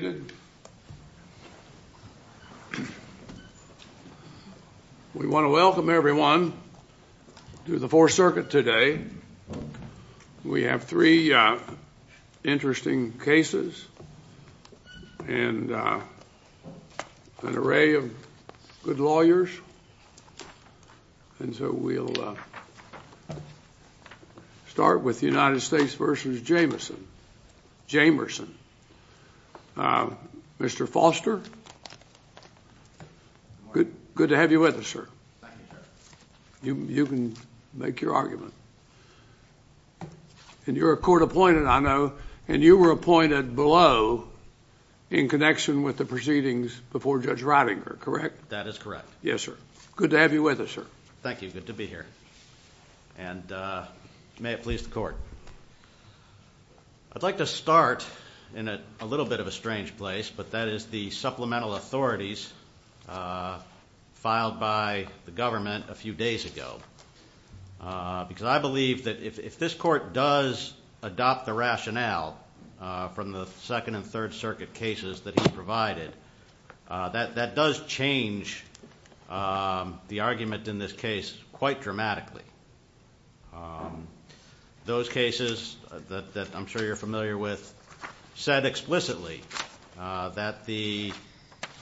We want to welcome everyone to the Fourth Circuit today. We have three interesting cases and an array of good lawyers. And so we'll start with the United States v. Jamerson. Mr. Foster, good to have you with us, sir. You can make your argument. And you're a court appointed, I know, and you were appointed below in connection with the proceedings before Judge Ridinger, correct? That is correct. Yes, sir. Good to have you with us, sir. Thank you. Good to be here. And may it please the court. I'd like to start in a little bit of a strange place, but that is the Supplemental Authorities filed by the government a few days ago. Because I believe that if this court does adopt the rationale from the Second and Third Circuit cases that he provided, that does change the argument in this case quite dramatically. Those cases that I'm sure you're familiar with said explicitly that the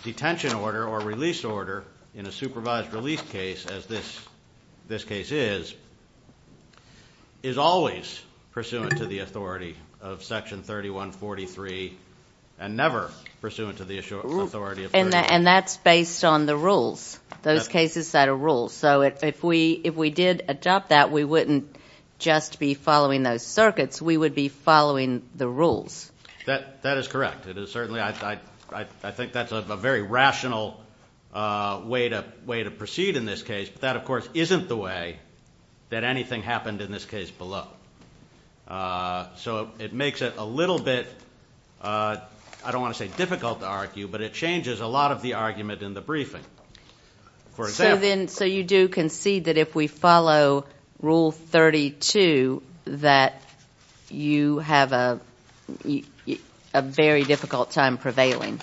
detention order or release order in a supervised release case, as this case is, is always pursuant to the authority of Section 3143 and never pursuant to the authority of Section 3143. And that's based on the rules, those cases set of rules. So if we did adopt that, we wouldn't just be following those circuits. We would be following the rules. That is correct. It is certainly, I think that's a very rational way to proceed in this case. But that, of course, isn't the way that anything happened in this case below. So it makes it a little bit, I don't So then, so you do concede that if we follow Rule 32, that you have a very difficult time prevailing?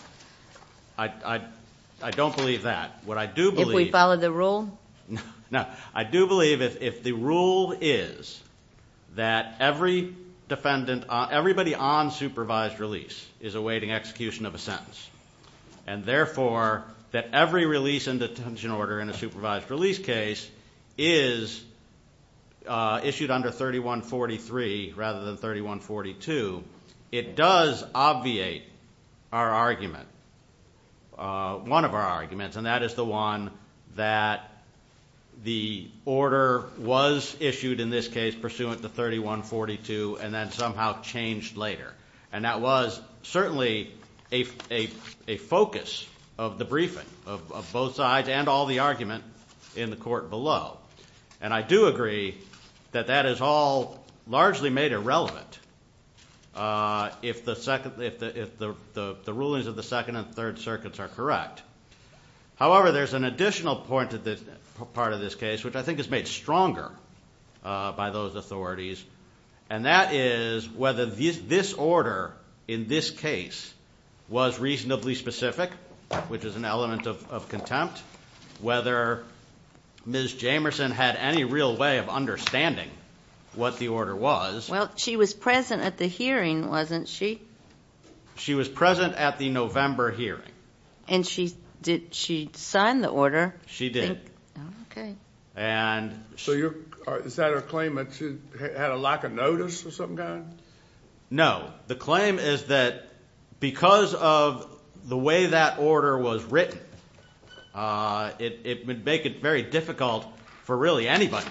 I don't believe that. What I do believe... If we follow the rule? No, I do believe if the rule is that every defendant, everybody on supervised release is awaiting execution of a detention order in a supervised release case, is issued under 3143 rather than 3142, it does obviate our argument, one of our arguments, and that is the one that the order was issued in this case pursuant to 3142 and then somehow changed later. And that was certainly a focus of the briefing of both sides and all the argument in the court below. And I do agree that that is all largely made irrelevant if the rulings of the Second and Third Circuits are correct. However, there's an additional part of this case which I think is made stronger by those authorities, and that is whether this order in this case was reasonably specific, which is an element of contempt, whether Ms. Jamerson had any real way of understanding what the order was. Well, she was present at the hearing, wasn't she? She was present at the November hearing. And she, did she sign the order? She did. Oh, okay. So is that a claim that she had a lack of notice or something like that? No, the claim is that because of the way that order was written, it would make it very difficult for really anybody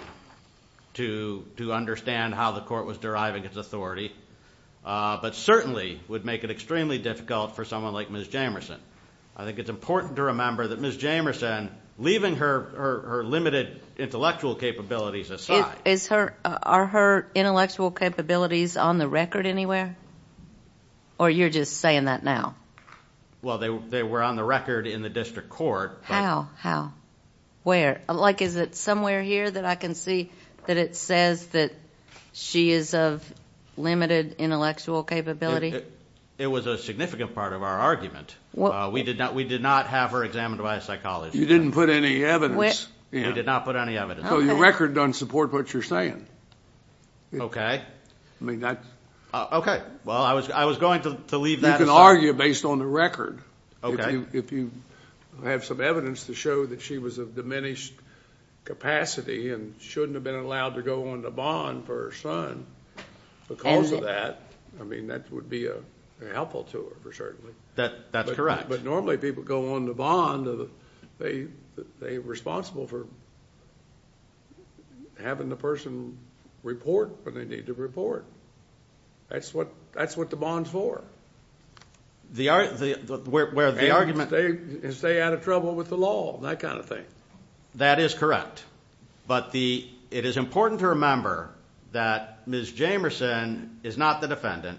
to understand how the court was deriving its authority, but certainly would make it extremely difficult for someone like Ms. Jamerson. I think it's important to remember that Ms. Jamerson, leaving her limited intellectual capabilities aside. Is her, are her intellectual capabilities on the record anywhere? Or you're just saying that now? Well, they were on the record in the district court. How? How? Where? Like, is it somewhere here that I can see that it says that she is of limited intellectual capability? It was a significant part of our argument. We did not, we did not have her examined by a psychologist. You didn't put any evidence. We did not put any evidence. So your record doesn't support what you're saying. Okay. I mean, that. Okay. Well, I was going to leave that aside. You can argue based on the record. Okay. If you have some evidence to show that she was of diminished capacity and shouldn't have been allowed to go on the bond for her son, because of that. I mean, that would be helpful to her, certainly. That, that's correct. But normally people go on the bond, they, they're responsible for having the person report when they need to report. That's what, that's what the bond's for. The, where the argument. And stay out of trouble with the law. That kind of thing. That is correct. But the, it is important to remember that Ms. Jamerson is not the defendant.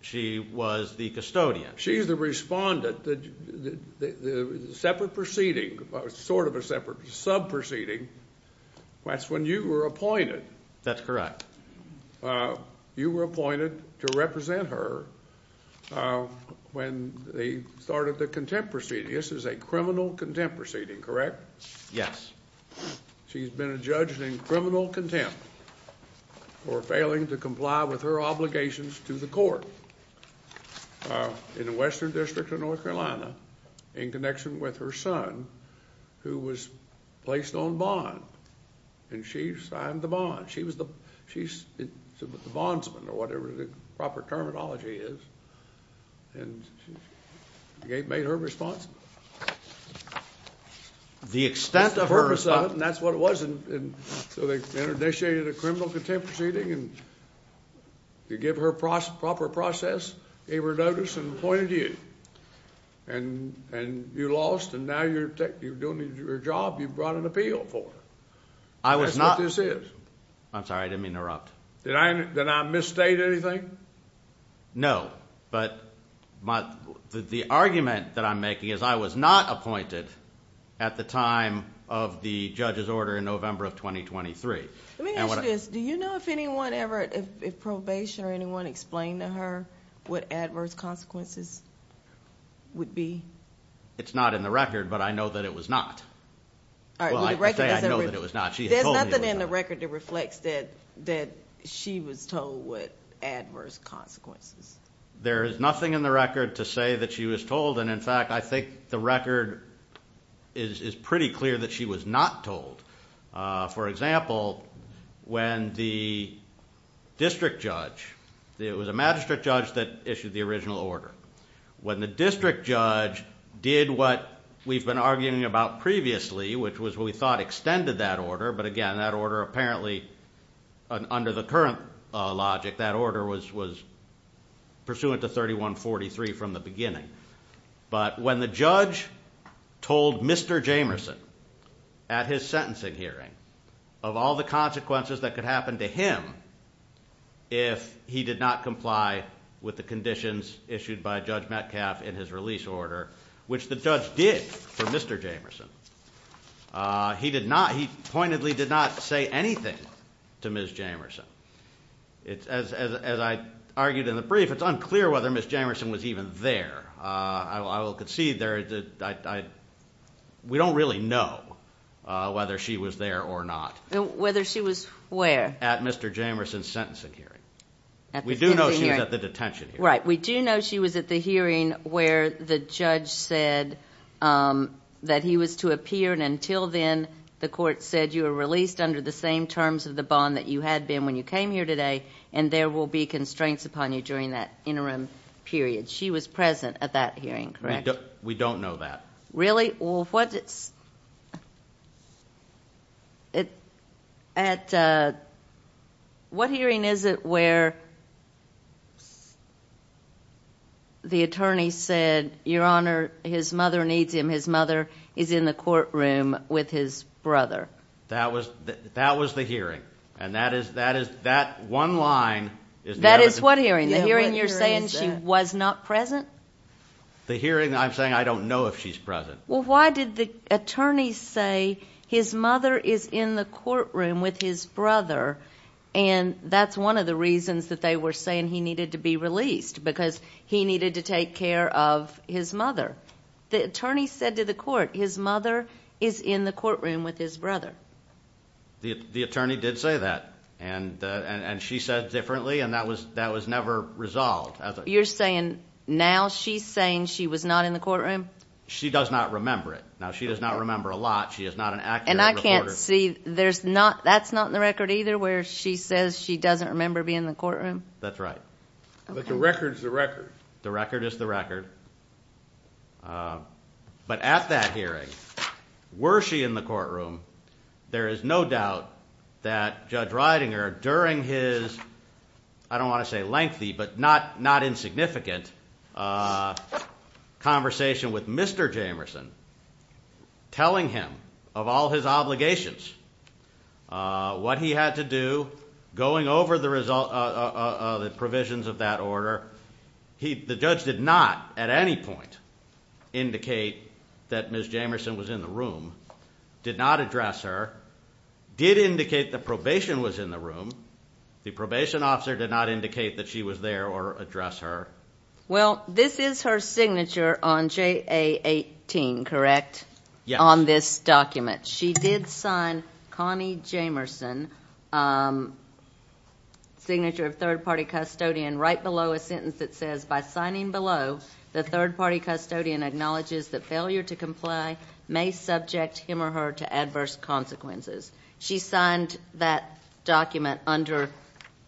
She was the custodian. She's the respondent. The, the, the separate proceeding, sort of a separate sub-proceeding, that's when you were appointed. That's correct. You were appointed to represent her when they started the contempt proceeding. This is a criminal contempt proceeding, correct? Yes. She's been adjudged in criminal contempt for failing to comply with her obligations to the court. In Western District of North Carolina, in connection with her son, who was placed on bond. And she signed the bond. She was the, she's the bondsman, or whatever the proper terminology is, and she made her responsible. The extent of her- That's what it was, and so they initiated a criminal contempt proceeding, and you give her proper process. They were noticed and appointed you, and you lost, and now you're doing your job. You've brought an appeal for her. I was not- That's what this is. I'm sorry, I didn't mean to interrupt. Did I, did I misstate anything? No, but my, the argument that I'm making is I was not appointed at the time of the judge's order in November of 2023. Let me ask you this. Do you know if anyone ever, if probation or anyone explained to her what adverse consequences would be? It's not in the record, but I know that it was not. All right, well the record doesn't- Well, I can say I know that it was not. She had told me it was not. There's nothing in the record that reflects that she was told what adverse consequences. There is nothing in the record to say that she was told. And in fact, I think the record is pretty clear that she was not told. For example, when the district judge, it was a magistrate judge that issued the original order. When the district judge did what we've been arguing about previously, which was what we thought extended that order. But again, that order apparently, under the current logic, that order was pursuant to 3143 from the beginning. But when the judge told Mr. Jamerson at his sentencing hearing of all the consequences that could happen to him if he did not comply with the conditions issued by Judge Metcalf in his release order, which the judge did for Mr. Jamerson, he pointedly did not say anything to Ms. Jamerson. As I argued in the brief, it's unclear whether Ms. Jamerson was even there. I will concede there, we don't really know whether she was there or not. Whether she was where? At Mr. Jamerson's sentencing hearing. We do know she was at the detention hearing. Right, we do know she was at the hearing where the judge said that he was to appear. And until then, the court said you were released under the same terms of the bond that you had been when you came here today. And there will be constraints upon you during that interim period. She was present at that hearing, correct? We don't know that. What hearing is it where the attorney said, your honor, his mother needs him. His mother is in the courtroom with his brother. That was the hearing. And that one line is- That is what hearing? The hearing you're saying she was not present? The hearing I'm saying I don't know if she's present. Well, why did the attorney say his mother is in the courtroom with his brother? And that's one of the reasons that they were saying he needed to be released, because he needed to take care of his mother. The attorney said to the court, his mother is in the courtroom with his brother. The attorney did say that. And she said differently, and that was never resolved. You're saying now she's saying she was not in the courtroom? She does not remember it. Now, she does not remember a lot. She is not an accurate reporter. And I can't see, that's not in the record either where she says she doesn't remember being in the courtroom? That's right. But the record's the record. The record is the record. But at that hearing, were she in the courtroom? There is no doubt that Judge Ridinger, during his, I don't want to say lengthy, but not insignificant, conversation with Mr. Jamerson, telling him of all his obligations, what he had to do, going over the provisions of that order. The judge did not, at any point, indicate that Ms. Jamerson was in the room. Did not address her. Did indicate that probation was in the room. The probation officer did not indicate that she was there or address her. Well, this is her signature on JA 18, correct? Yes. On this document. She did sign Connie Jamerson, signature of third party custodian, right below a sentence that says, by signing below, the third party custodian acknowledges that failure to comply may subject him or her to adverse consequences. She signed that document under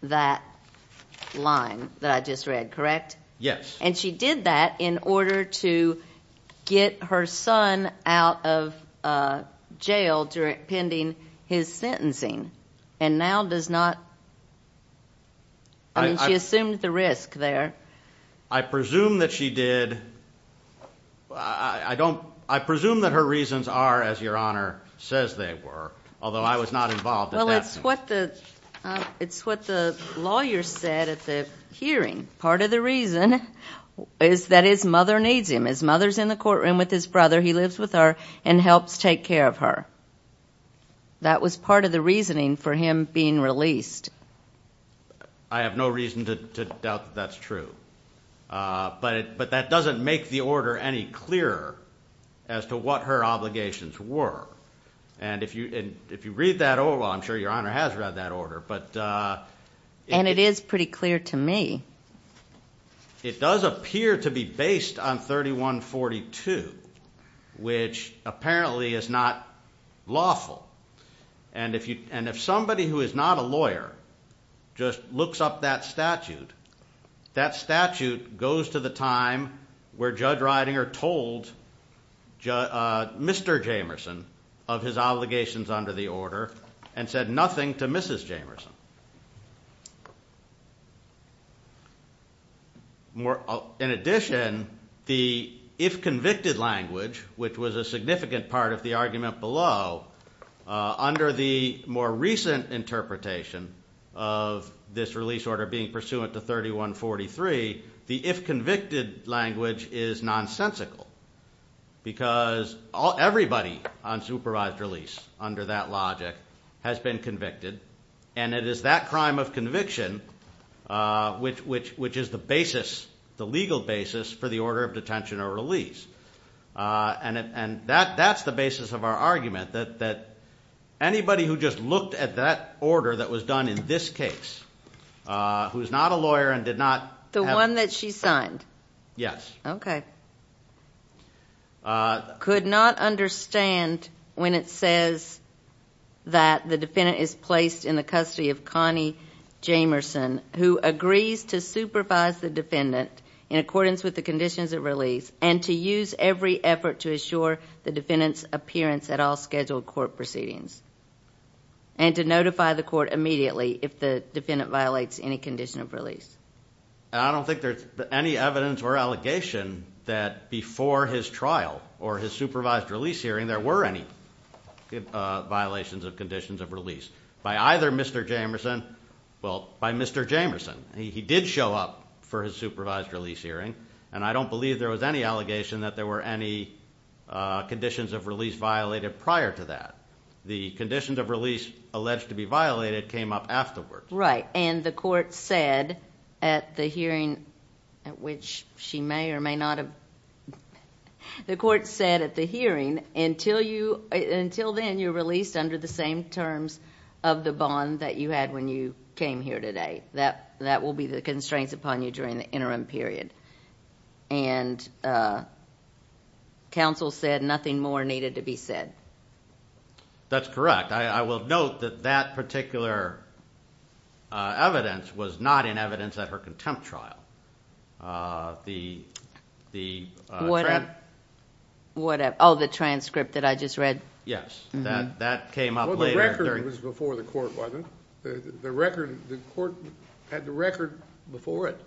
that line that I just read, correct? Yes. And she did that in order to get her son out of jail during, pending his sentencing. And now does not, I mean she assumed the risk there. I presume that she did, I don't, I presume that her reasons are, as your honor says they were. Although I was not involved in that. Well, it's what the, it's what the lawyer said at the hearing. Part of the reason is that his mother needs him. His mother's in the courtroom with his brother. He lives with her and helps take care of her. That was part of the reasoning for him being released. I have no reason to doubt that that's true. But it, but that doesn't make the order any clearer as to what her obligations were. And if you, if you read that over, I'm sure your honor has read that order, but. And it is pretty clear to me. It does appear to be based on 3142, which apparently is not lawful. And if you, and if somebody who is not a lawyer just looks up that statute, that statute goes to the time where Judge Reidinger told Mr. Jamerson of his obligations under the order and said nothing to Mrs. Jamerson. More, in addition, the if convicted language, which was a significant part of the argument below. Under the more recent interpretation of this release order being pursuant to 3143, the if convicted language is nonsensical. Because all, everybody on supervised release under that logic has been convicted. And it is that crime of conviction which, which, which is the basis, the legal basis for the order of detention or release. And it, and that, that's the basis of our argument. That, that anybody who just looked at that order that was done in this case. Who's not a lawyer and did not. The one that she signed. Yes. Okay. Could not understand when it says that the defendant is placed in the custody of Connie Jamerson. Who agrees to supervise the defendant in accordance with the conditions of release. And to use every effort to assure the defendant's appearance at all scheduled court proceedings. And to notify the court immediately if the defendant violates any condition of release. I don't think there's any evidence or allegation that before his trial or his supervised release hearing there were any violations of conditions of release. By either Mr. Jamerson, well, by Mr. Jamerson, he did show up for his supervised release hearing. And I don't believe there was any allegation that there were any conditions of release violated prior to that. The conditions of release alleged to be violated came up afterwards. Right, and the court said at the hearing, at which she may or may not have. The court said at the hearing, until then you're released under the same terms of the bond that you had when you came here today. That will be the constraints upon you during the interim period. And counsel said nothing more needed to be said. That's correct. I will note that that particular evidence was not in evidence at her contempt trial. The- What, oh, the transcript that I just read. Yes, that came up later. Well, the record was before the court, wasn't it? The record, the court had the record before it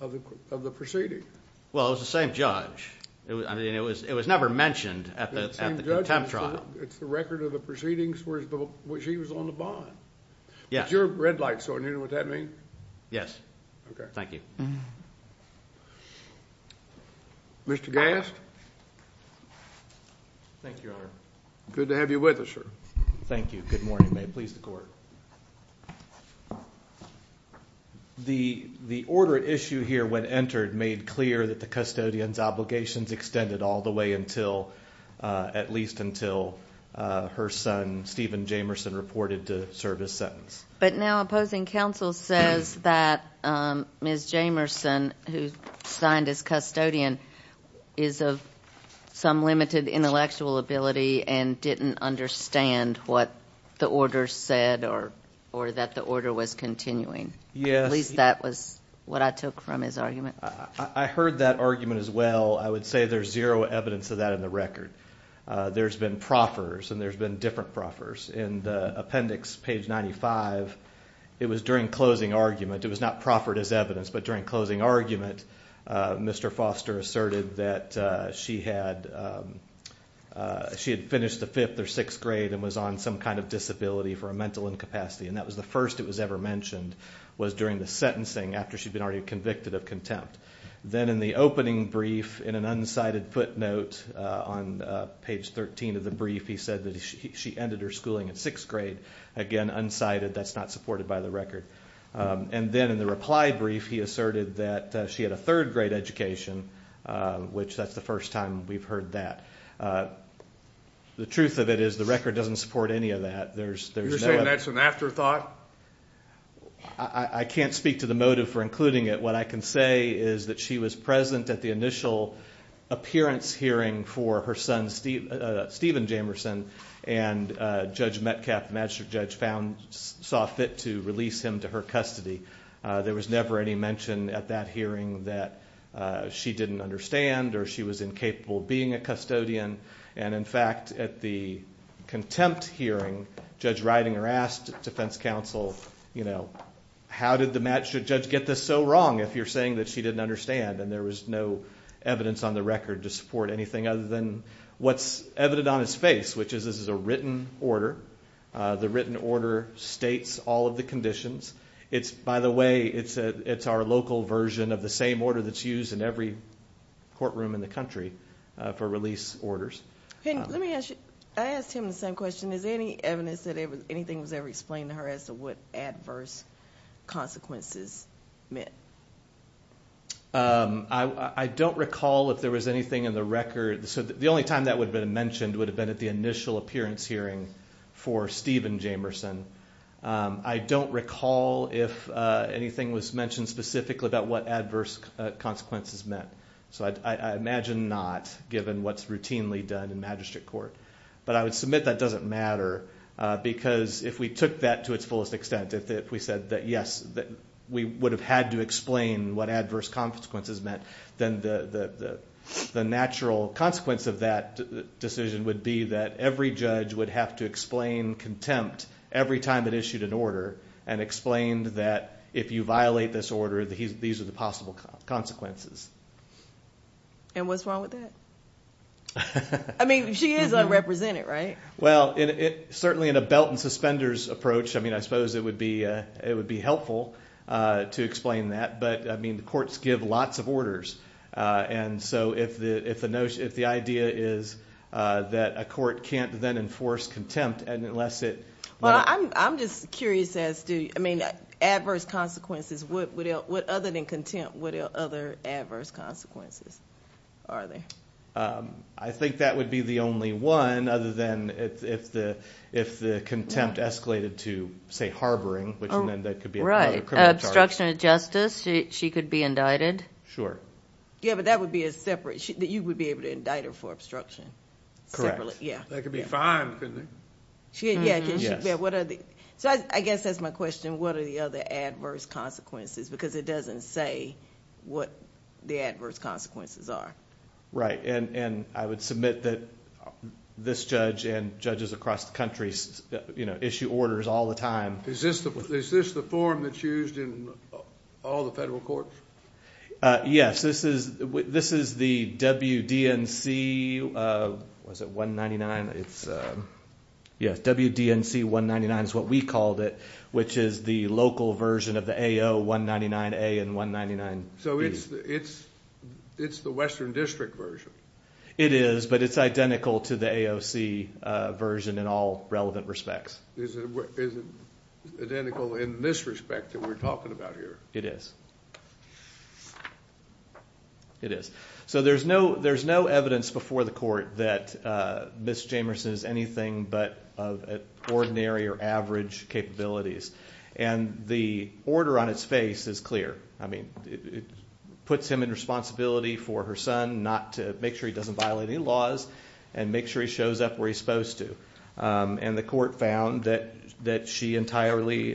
of the proceeding. Well, it was the same judge. I mean, it was never mentioned at the contempt trial. It's the record of the proceedings where she was on the bond. Yes. But your red light's on, you know what that means? Yes. Okay. Thank you. Mr. Gast? Thank you, Your Honor. Good to have you with us, sir. Thank you. Good morning, may it please the court. The order at issue here when entered made clear that the custodian's obligations extended all the way until, at least until her son, Steven Jamerson, reported to serve his sentence. But now opposing counsel says that Ms. Jamerson, who signed as custodian, is of some limited intellectual ability and didn't understand what the order said or that the order was continuing. Yes. At least that was what I took from his argument. I heard that argument as well. I would say there's zero evidence of that in the record. There's been proffers and there's been different proffers. In the appendix, page 95, it was during closing argument. It was not proffered as evidence, but during closing argument, Mr. Foster asserted that she had finished the fifth or sixth grade and was on some kind of disability for a mental incapacity. And that was the first it was ever mentioned, was during the sentencing after she'd been already convicted of contempt. Then in the opening brief, in an unsighted footnote on page 13 of the brief, he said that she ended her schooling in sixth grade. Again, unsighted. That's not supported by the record. And then in the reply brief, he asserted that she had a third grade education, which that's the first time we've heard that. The truth of it is the record doesn't support any of that. You're saying that's an afterthought? I can't speak to the motive for including it. What I can say is that she was present at the initial appearance hearing for her son, Stephen Jamerson. And Judge Metcalf, the magistrate judge, saw fit to release him to her custody. There was never any mention at that hearing that she didn't understand or she was incapable of being a custodian. And in fact, at the contempt hearing, Judge Ridinger asked defense counsel, you know, how did the magistrate judge get this so wrong if you're saying that she didn't understand? And there was no evidence on the record to support anything other than what's evident on his face, which is this is a written order. The written order states all of the conditions. It's by the way, it's our local version of the same order that's used in every courtroom in the country for release orders. Let me ask you, I asked him the same question. Is there any evidence that anything was ever explained to her as to what adverse consequences meant? I don't recall if there was anything in the record. So the only time that would have been mentioned would have been at the initial appearance hearing for Stephen Jamerson. I don't recall if anything was mentioned specifically about what adverse consequences meant. So I imagine not, given what's routinely done in magistrate court. But I would submit that doesn't matter because if we took that to its fullest extent, if we said that yes, we would have had to explain what adverse consequences meant, then the natural consequence of that decision would be that every judge would have to explain contempt every time it issued an order and explained that if you violate this order, these are the possible consequences. And what's wrong with that? I mean, she is unrepresented, right? Well, certainly in a belt and suspenders approach, I mean, I suppose it would be helpful to explain that. But I mean, the courts give lots of orders. And so if the notion, if the idea is that a court can't then enforce contempt unless it. Well, I'm just curious as to, I mean, adverse consequences, what other than contempt, what other adverse consequences are there? I think that would be the only one other than if the contempt escalated to, say, harboring, which then that could be another criminal charge. Right. Obstruction of justice, she could be indicted? Sure. Yeah, but that would be a separate, that you would be able to indict her for obstruction. Correct. Yeah. That could be fine, couldn't it? Yeah, can she be, what are the, so I guess that's my question, what are the other adverse consequences? Because it doesn't say what the adverse consequences are. Right, and I would submit that this judge and judges across the country issue orders all the time. Is this the form that's used in all the federal courts? Yes, this is the WDNC, was it 199? It's, yeah, WDNC 199 is what we called it, which is the local version of the AO 199A and 199B. So it's the Western District version? It is, but it's identical to the AOC version in all relevant respects. Is it identical in this respect that we're talking about here? It is. It is. So there's no evidence before the court that Ms. Jamerson is anything but of ordinary or average capabilities. And the order on its face is clear. I mean, it puts him in responsibility for her son not to, make sure he doesn't violate any laws, and make sure he shows up where he's supposed to. And the court found that she entirely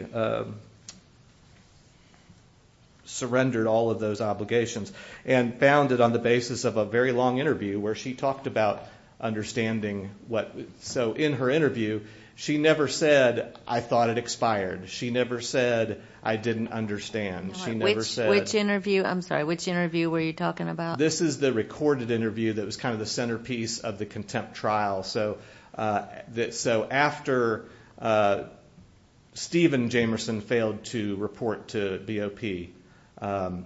surrendered all of those obligations and found it on the basis of a very long interview where she talked about understanding what, so in her interview, she never said, I thought it expired. She never said, I didn't understand. She never said. Which interview? I'm sorry, which interview were you talking about? This is the recorded interview that was kind of the centerpiece of the contempt trial. So after Stephen Jamerson failed to report to BOP,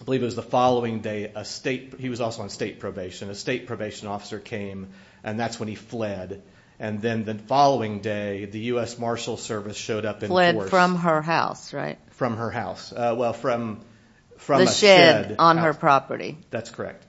I believe it was the following day, a state, he was also on state probation. A state probation officer came, and that's when he fled. And then the following day, the U.S. Marshal Service showed up in force. Fled from her house, right? From her house. Well, from a shed. The shed on her property. That's correct.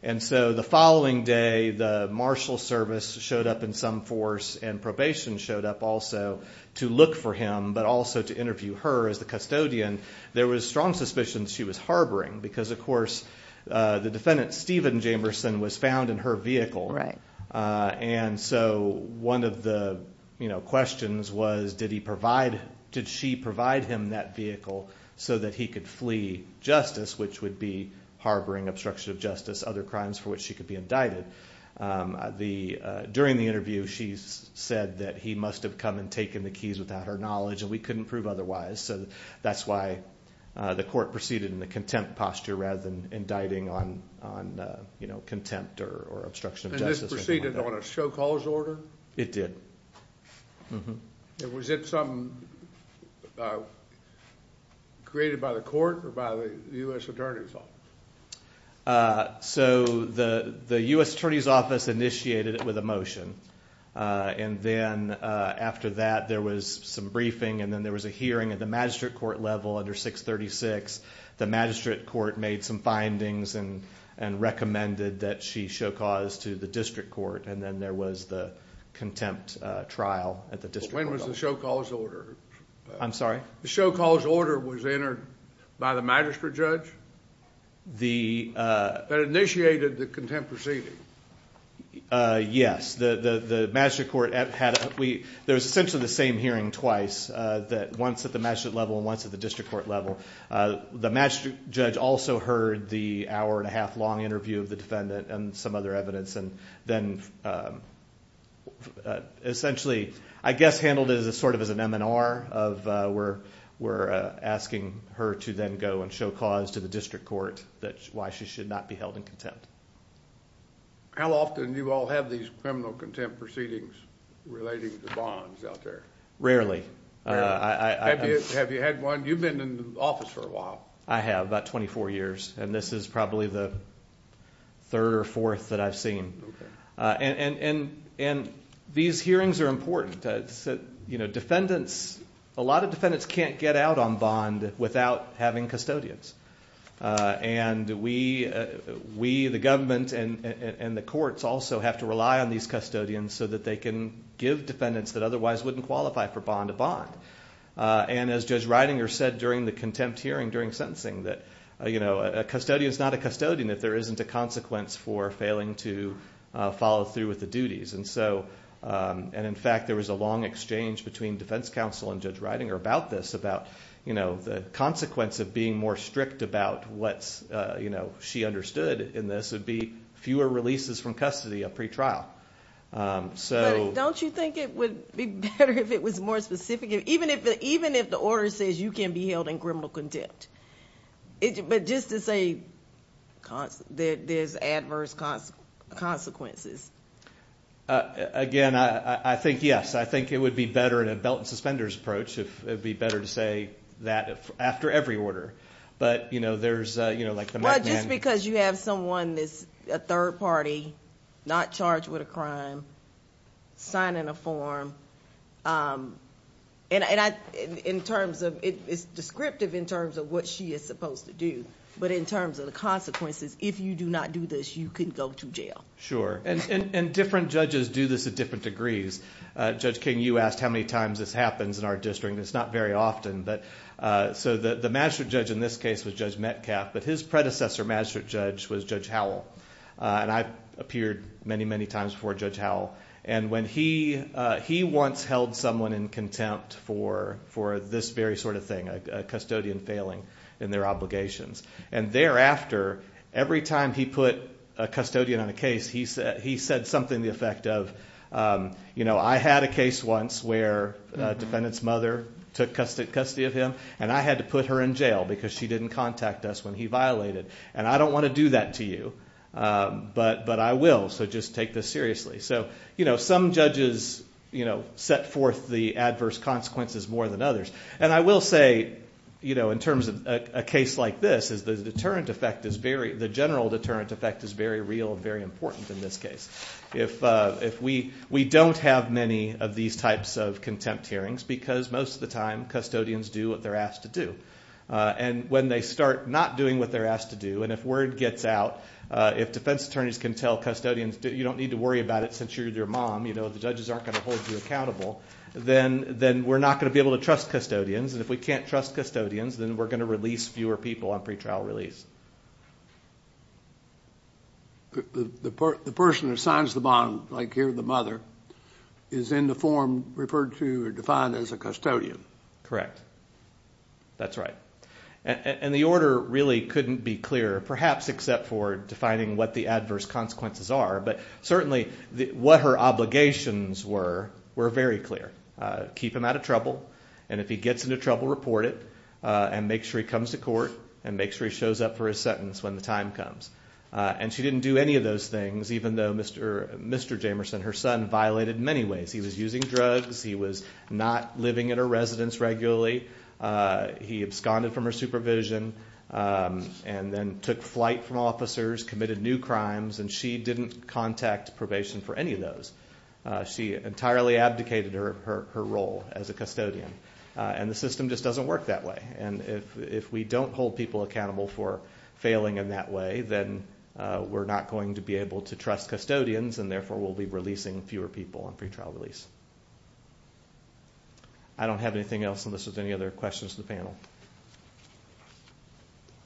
And so the following day, the Marshal Service showed up in some force and probation showed up also to look for him, but also to interview her as the custodian. There was strong suspicion she was harboring because, of course, the defendant, Stephen Jamerson, was found in her vehicle. Right. And so one of the questions was, did he provide, did she provide him that vehicle so that he could flee justice, which would be harboring obstruction of justice, other crimes for which she could be indicted? During the interview, she said that he must have come and taken the keys without her knowledge, and we couldn't prove otherwise. So that's why the court proceeded in the contempt posture rather than indicting on contempt or obstruction of justice. And this proceeded on a show cause order? It did. And was it something created by the court or by the U.S. Attorney's Office? So the U.S. Attorney's Office initiated it with a motion, and then after that, there was some briefing, and then there was a hearing at the magistrate court level under 636. The magistrate court made some findings and recommended that she show cause to the district court, and then there was the contempt trial at the district court level. When was the show cause order? I'm sorry? The show cause order was entered by the magistrate judge that initiated the contempt proceeding? Yes. The magistrate court had a, there was essentially the same hearing twice, once at the magistrate level and once at the district court level. The magistrate judge also heard the hour and a half long interview of the defendant and some other evidence, and then essentially, I guess, handled it sort of as an M&R of we're asking her to then go and show cause to the district court why she should not be held in contempt. How often do you all have these criminal contempt proceedings relating to bonds out there? Rarely. Have you had one? You've been in the office for a while. I have, about 24 years, and this is probably the third or fourth that I've seen. And these hearings are important. You know, defendants, a lot of defendants can't get out on bond without having custodians. And we, the government and the courts also have to rely on these custodians so that they can give defendants that otherwise wouldn't qualify for bond a bond. And as Judge Reidinger said during the contempt hearing during sentencing, that a custodian is not a custodian if there isn't a consequence for failing to follow through with the duties. And so, and in fact, there was a long exchange between defense counsel and Judge Reidinger about this, about, you know, the consequence of being more strict about what's, you know, she understood in this would be fewer releases from custody, a pretrial. So don't you think it would be better if it was more specific, even if even if the order says you can be held in criminal contempt, but just to say that there's adverse consequences. Again, I think, yes, I think it would be better in a belt and suspenders approach if it would be better to say that after every order. But, you know, there's, you know, like the. Well, just because you have someone that's a third party, not charged with a crime, signing a form. And I, in terms of, it's descriptive in terms of what she is supposed to do. But in terms of the consequences, if you do not do this, you can go to jail. Sure. And different judges do this at different degrees. Judge King, you asked how many times this happens in our district. It's not very often. But so the magistrate judge in this case was Judge Metcalf, but his predecessor magistrate judge was Judge Howell. And I've appeared many, many times before Judge Howell. And when he he once held someone in contempt for for this very sort of thing, a custodian failing in their obligations. And thereafter, every time he put a custodian on a case, he said he said something the effect of, you know, I had a case once where a defendant's mother took custody of him and I had to put her in jail because she didn't contact us when he violated. And I don't want to do that to you. But but I will. So just take this seriously. So, you know, some judges, you know, set forth the adverse consequences more than others. And I will say, you know, in terms of a case like this is the deterrent effect is very the general deterrent effect is very real, very important in this case. If if we we don't have many of these types of contempt hearings because most of the time custodians do what they're asked to do. And when they start not doing what they're asked to do and if word gets out, if defense attorneys can tell custodians, you don't need to worry about it since you're their mom. You know, the judges aren't going to hold you accountable. Then then we're not going to be able to trust custodians. And if we can't trust custodians, then we're going to release fewer people on pretrial release. The person who signs the bond, like here, the mother is in the form referred to or defined as a custodian. Correct. That's right. And the order really couldn't be clearer, perhaps except for defining what the adverse consequences are. But certainly what her obligations were, were very clear. Keep him out of trouble. And if he gets into trouble, report it and make sure he comes to court and make sure he shows up for his sentence when the time comes. And she didn't do any of those things, even though Mr. Mr. Jamerson, her son, violated many ways. He was using drugs. He was not living in a residence regularly. He absconded from her supervision and then took flight from officers, committed new crimes. And she didn't contact probation for any of those. She entirely abdicated her role as a custodian. And the system just doesn't work that way. And if we don't hold people accountable for failing in that way, then we're not going to be able to trust custodians, and therefore we'll be releasing fewer people on pretrial release. I don't have anything else unless there's any other questions from the panel.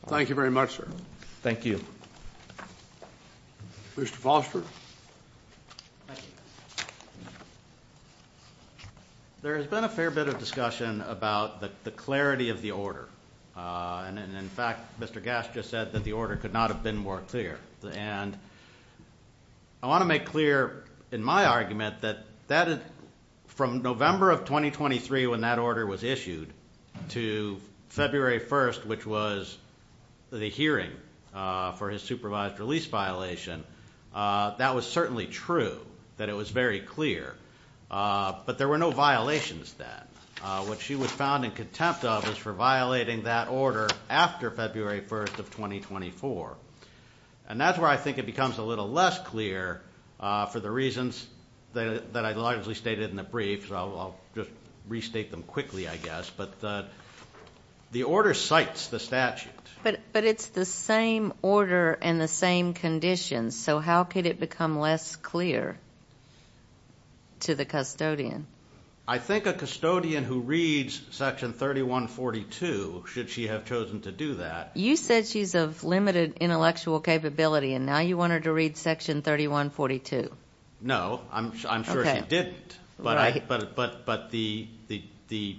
Thank you very much, sir. Thank you. Mr. Foster. Thank you. There has been a fair bit of discussion about the clarity of the order. And, in fact, Mr. Gass just said that the order could not have been more clear. And I want to make clear in my argument that from November of 2023 when that order was issued to February 1st, which was the hearing for his supervised release violation, that was certainly true, that it was very clear. But there were no violations then. What she was found in contempt of was for violating that order after February 1st of 2024. And that's where I think it becomes a little less clear for the reasons that I largely stated in the brief, so I'll just restate them quickly, I guess. But the order cites the statute. But it's the same order and the same conditions, so how could it become less clear to the custodian? I think a custodian who reads Section 3142, should she have chosen to do that. You said she's of limited intellectual capability, and now you want her to read Section 3142. No, I'm sure she didn't. But the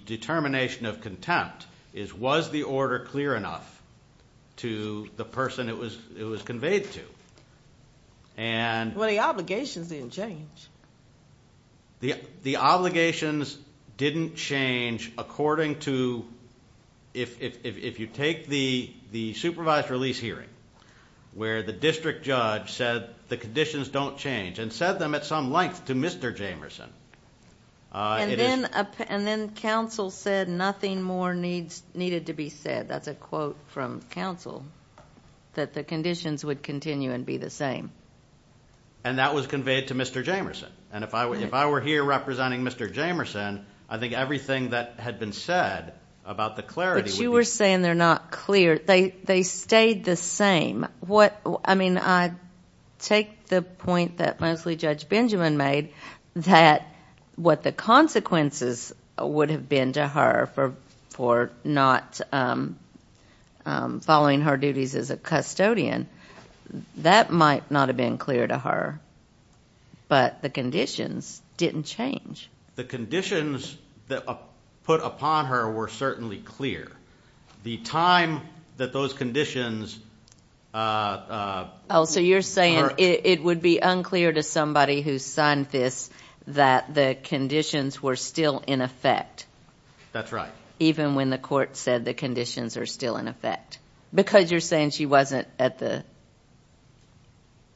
determination of contempt is, was the order clear enough to the person it was conveyed to? Well, the obligations didn't change. The obligations didn't change according to, if you take the supervised release hearing, where the district judge said the conditions don't change and said them at some length to Mr. Jamerson. And then counsel said nothing more needed to be said. That's a quote from counsel, that the conditions would continue and be the same. And that was conveyed to Mr. Jamerson. And if I were here representing Mr. Jamerson, I think everything that had been said about the clarity would be. But you were saying they're not clear. They stayed the same. I mean, I take the point that mostly Judge Benjamin made, that what the consequences would have been to her for not following her duties as a custodian, that might not have been clear to her. But the conditions didn't change. The conditions that were put upon her were certainly clear. The time that those conditions occurred. Oh, so you're saying it would be unclear to somebody who signed this that the conditions were still in effect. That's right. Even when the court said the conditions are still in effect. Because you're saying she wasn't at the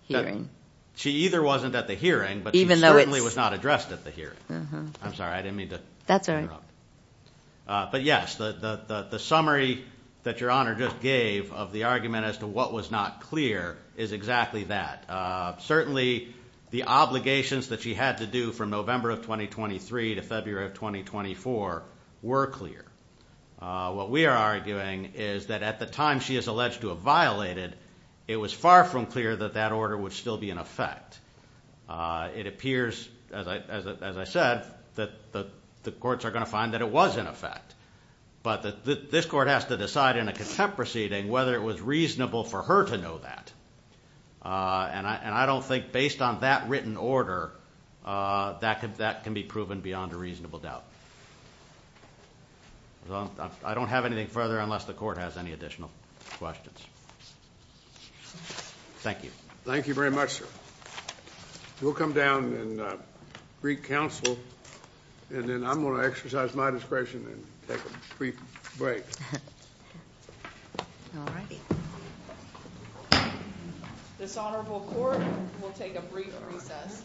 hearing. She either wasn't at the hearing, but she certainly was not addressed at the hearing. I'm sorry. I didn't mean to interrupt. But, yes, the summary that Your Honor just gave of the argument as to what was not clear is exactly that. Certainly the obligations that she had to do from November of 2023 to February of 2024 were clear. What we are arguing is that at the time she is alleged to have violated, it was far from clear that that order would still be in effect. It appears, as I said, that the courts are going to find that it was in effect. But this court has to decide in a contempt proceeding whether it was reasonable for her to know that. And I don't think, based on that written order, that can be proven beyond a reasonable doubt. I don't have anything further unless the court has any additional questions. Thank you. Thank you very much, sir. We'll come down and greet counsel, and then I'm going to exercise my discretion and take a brief break. All righty. This honorable court will take a brief recess.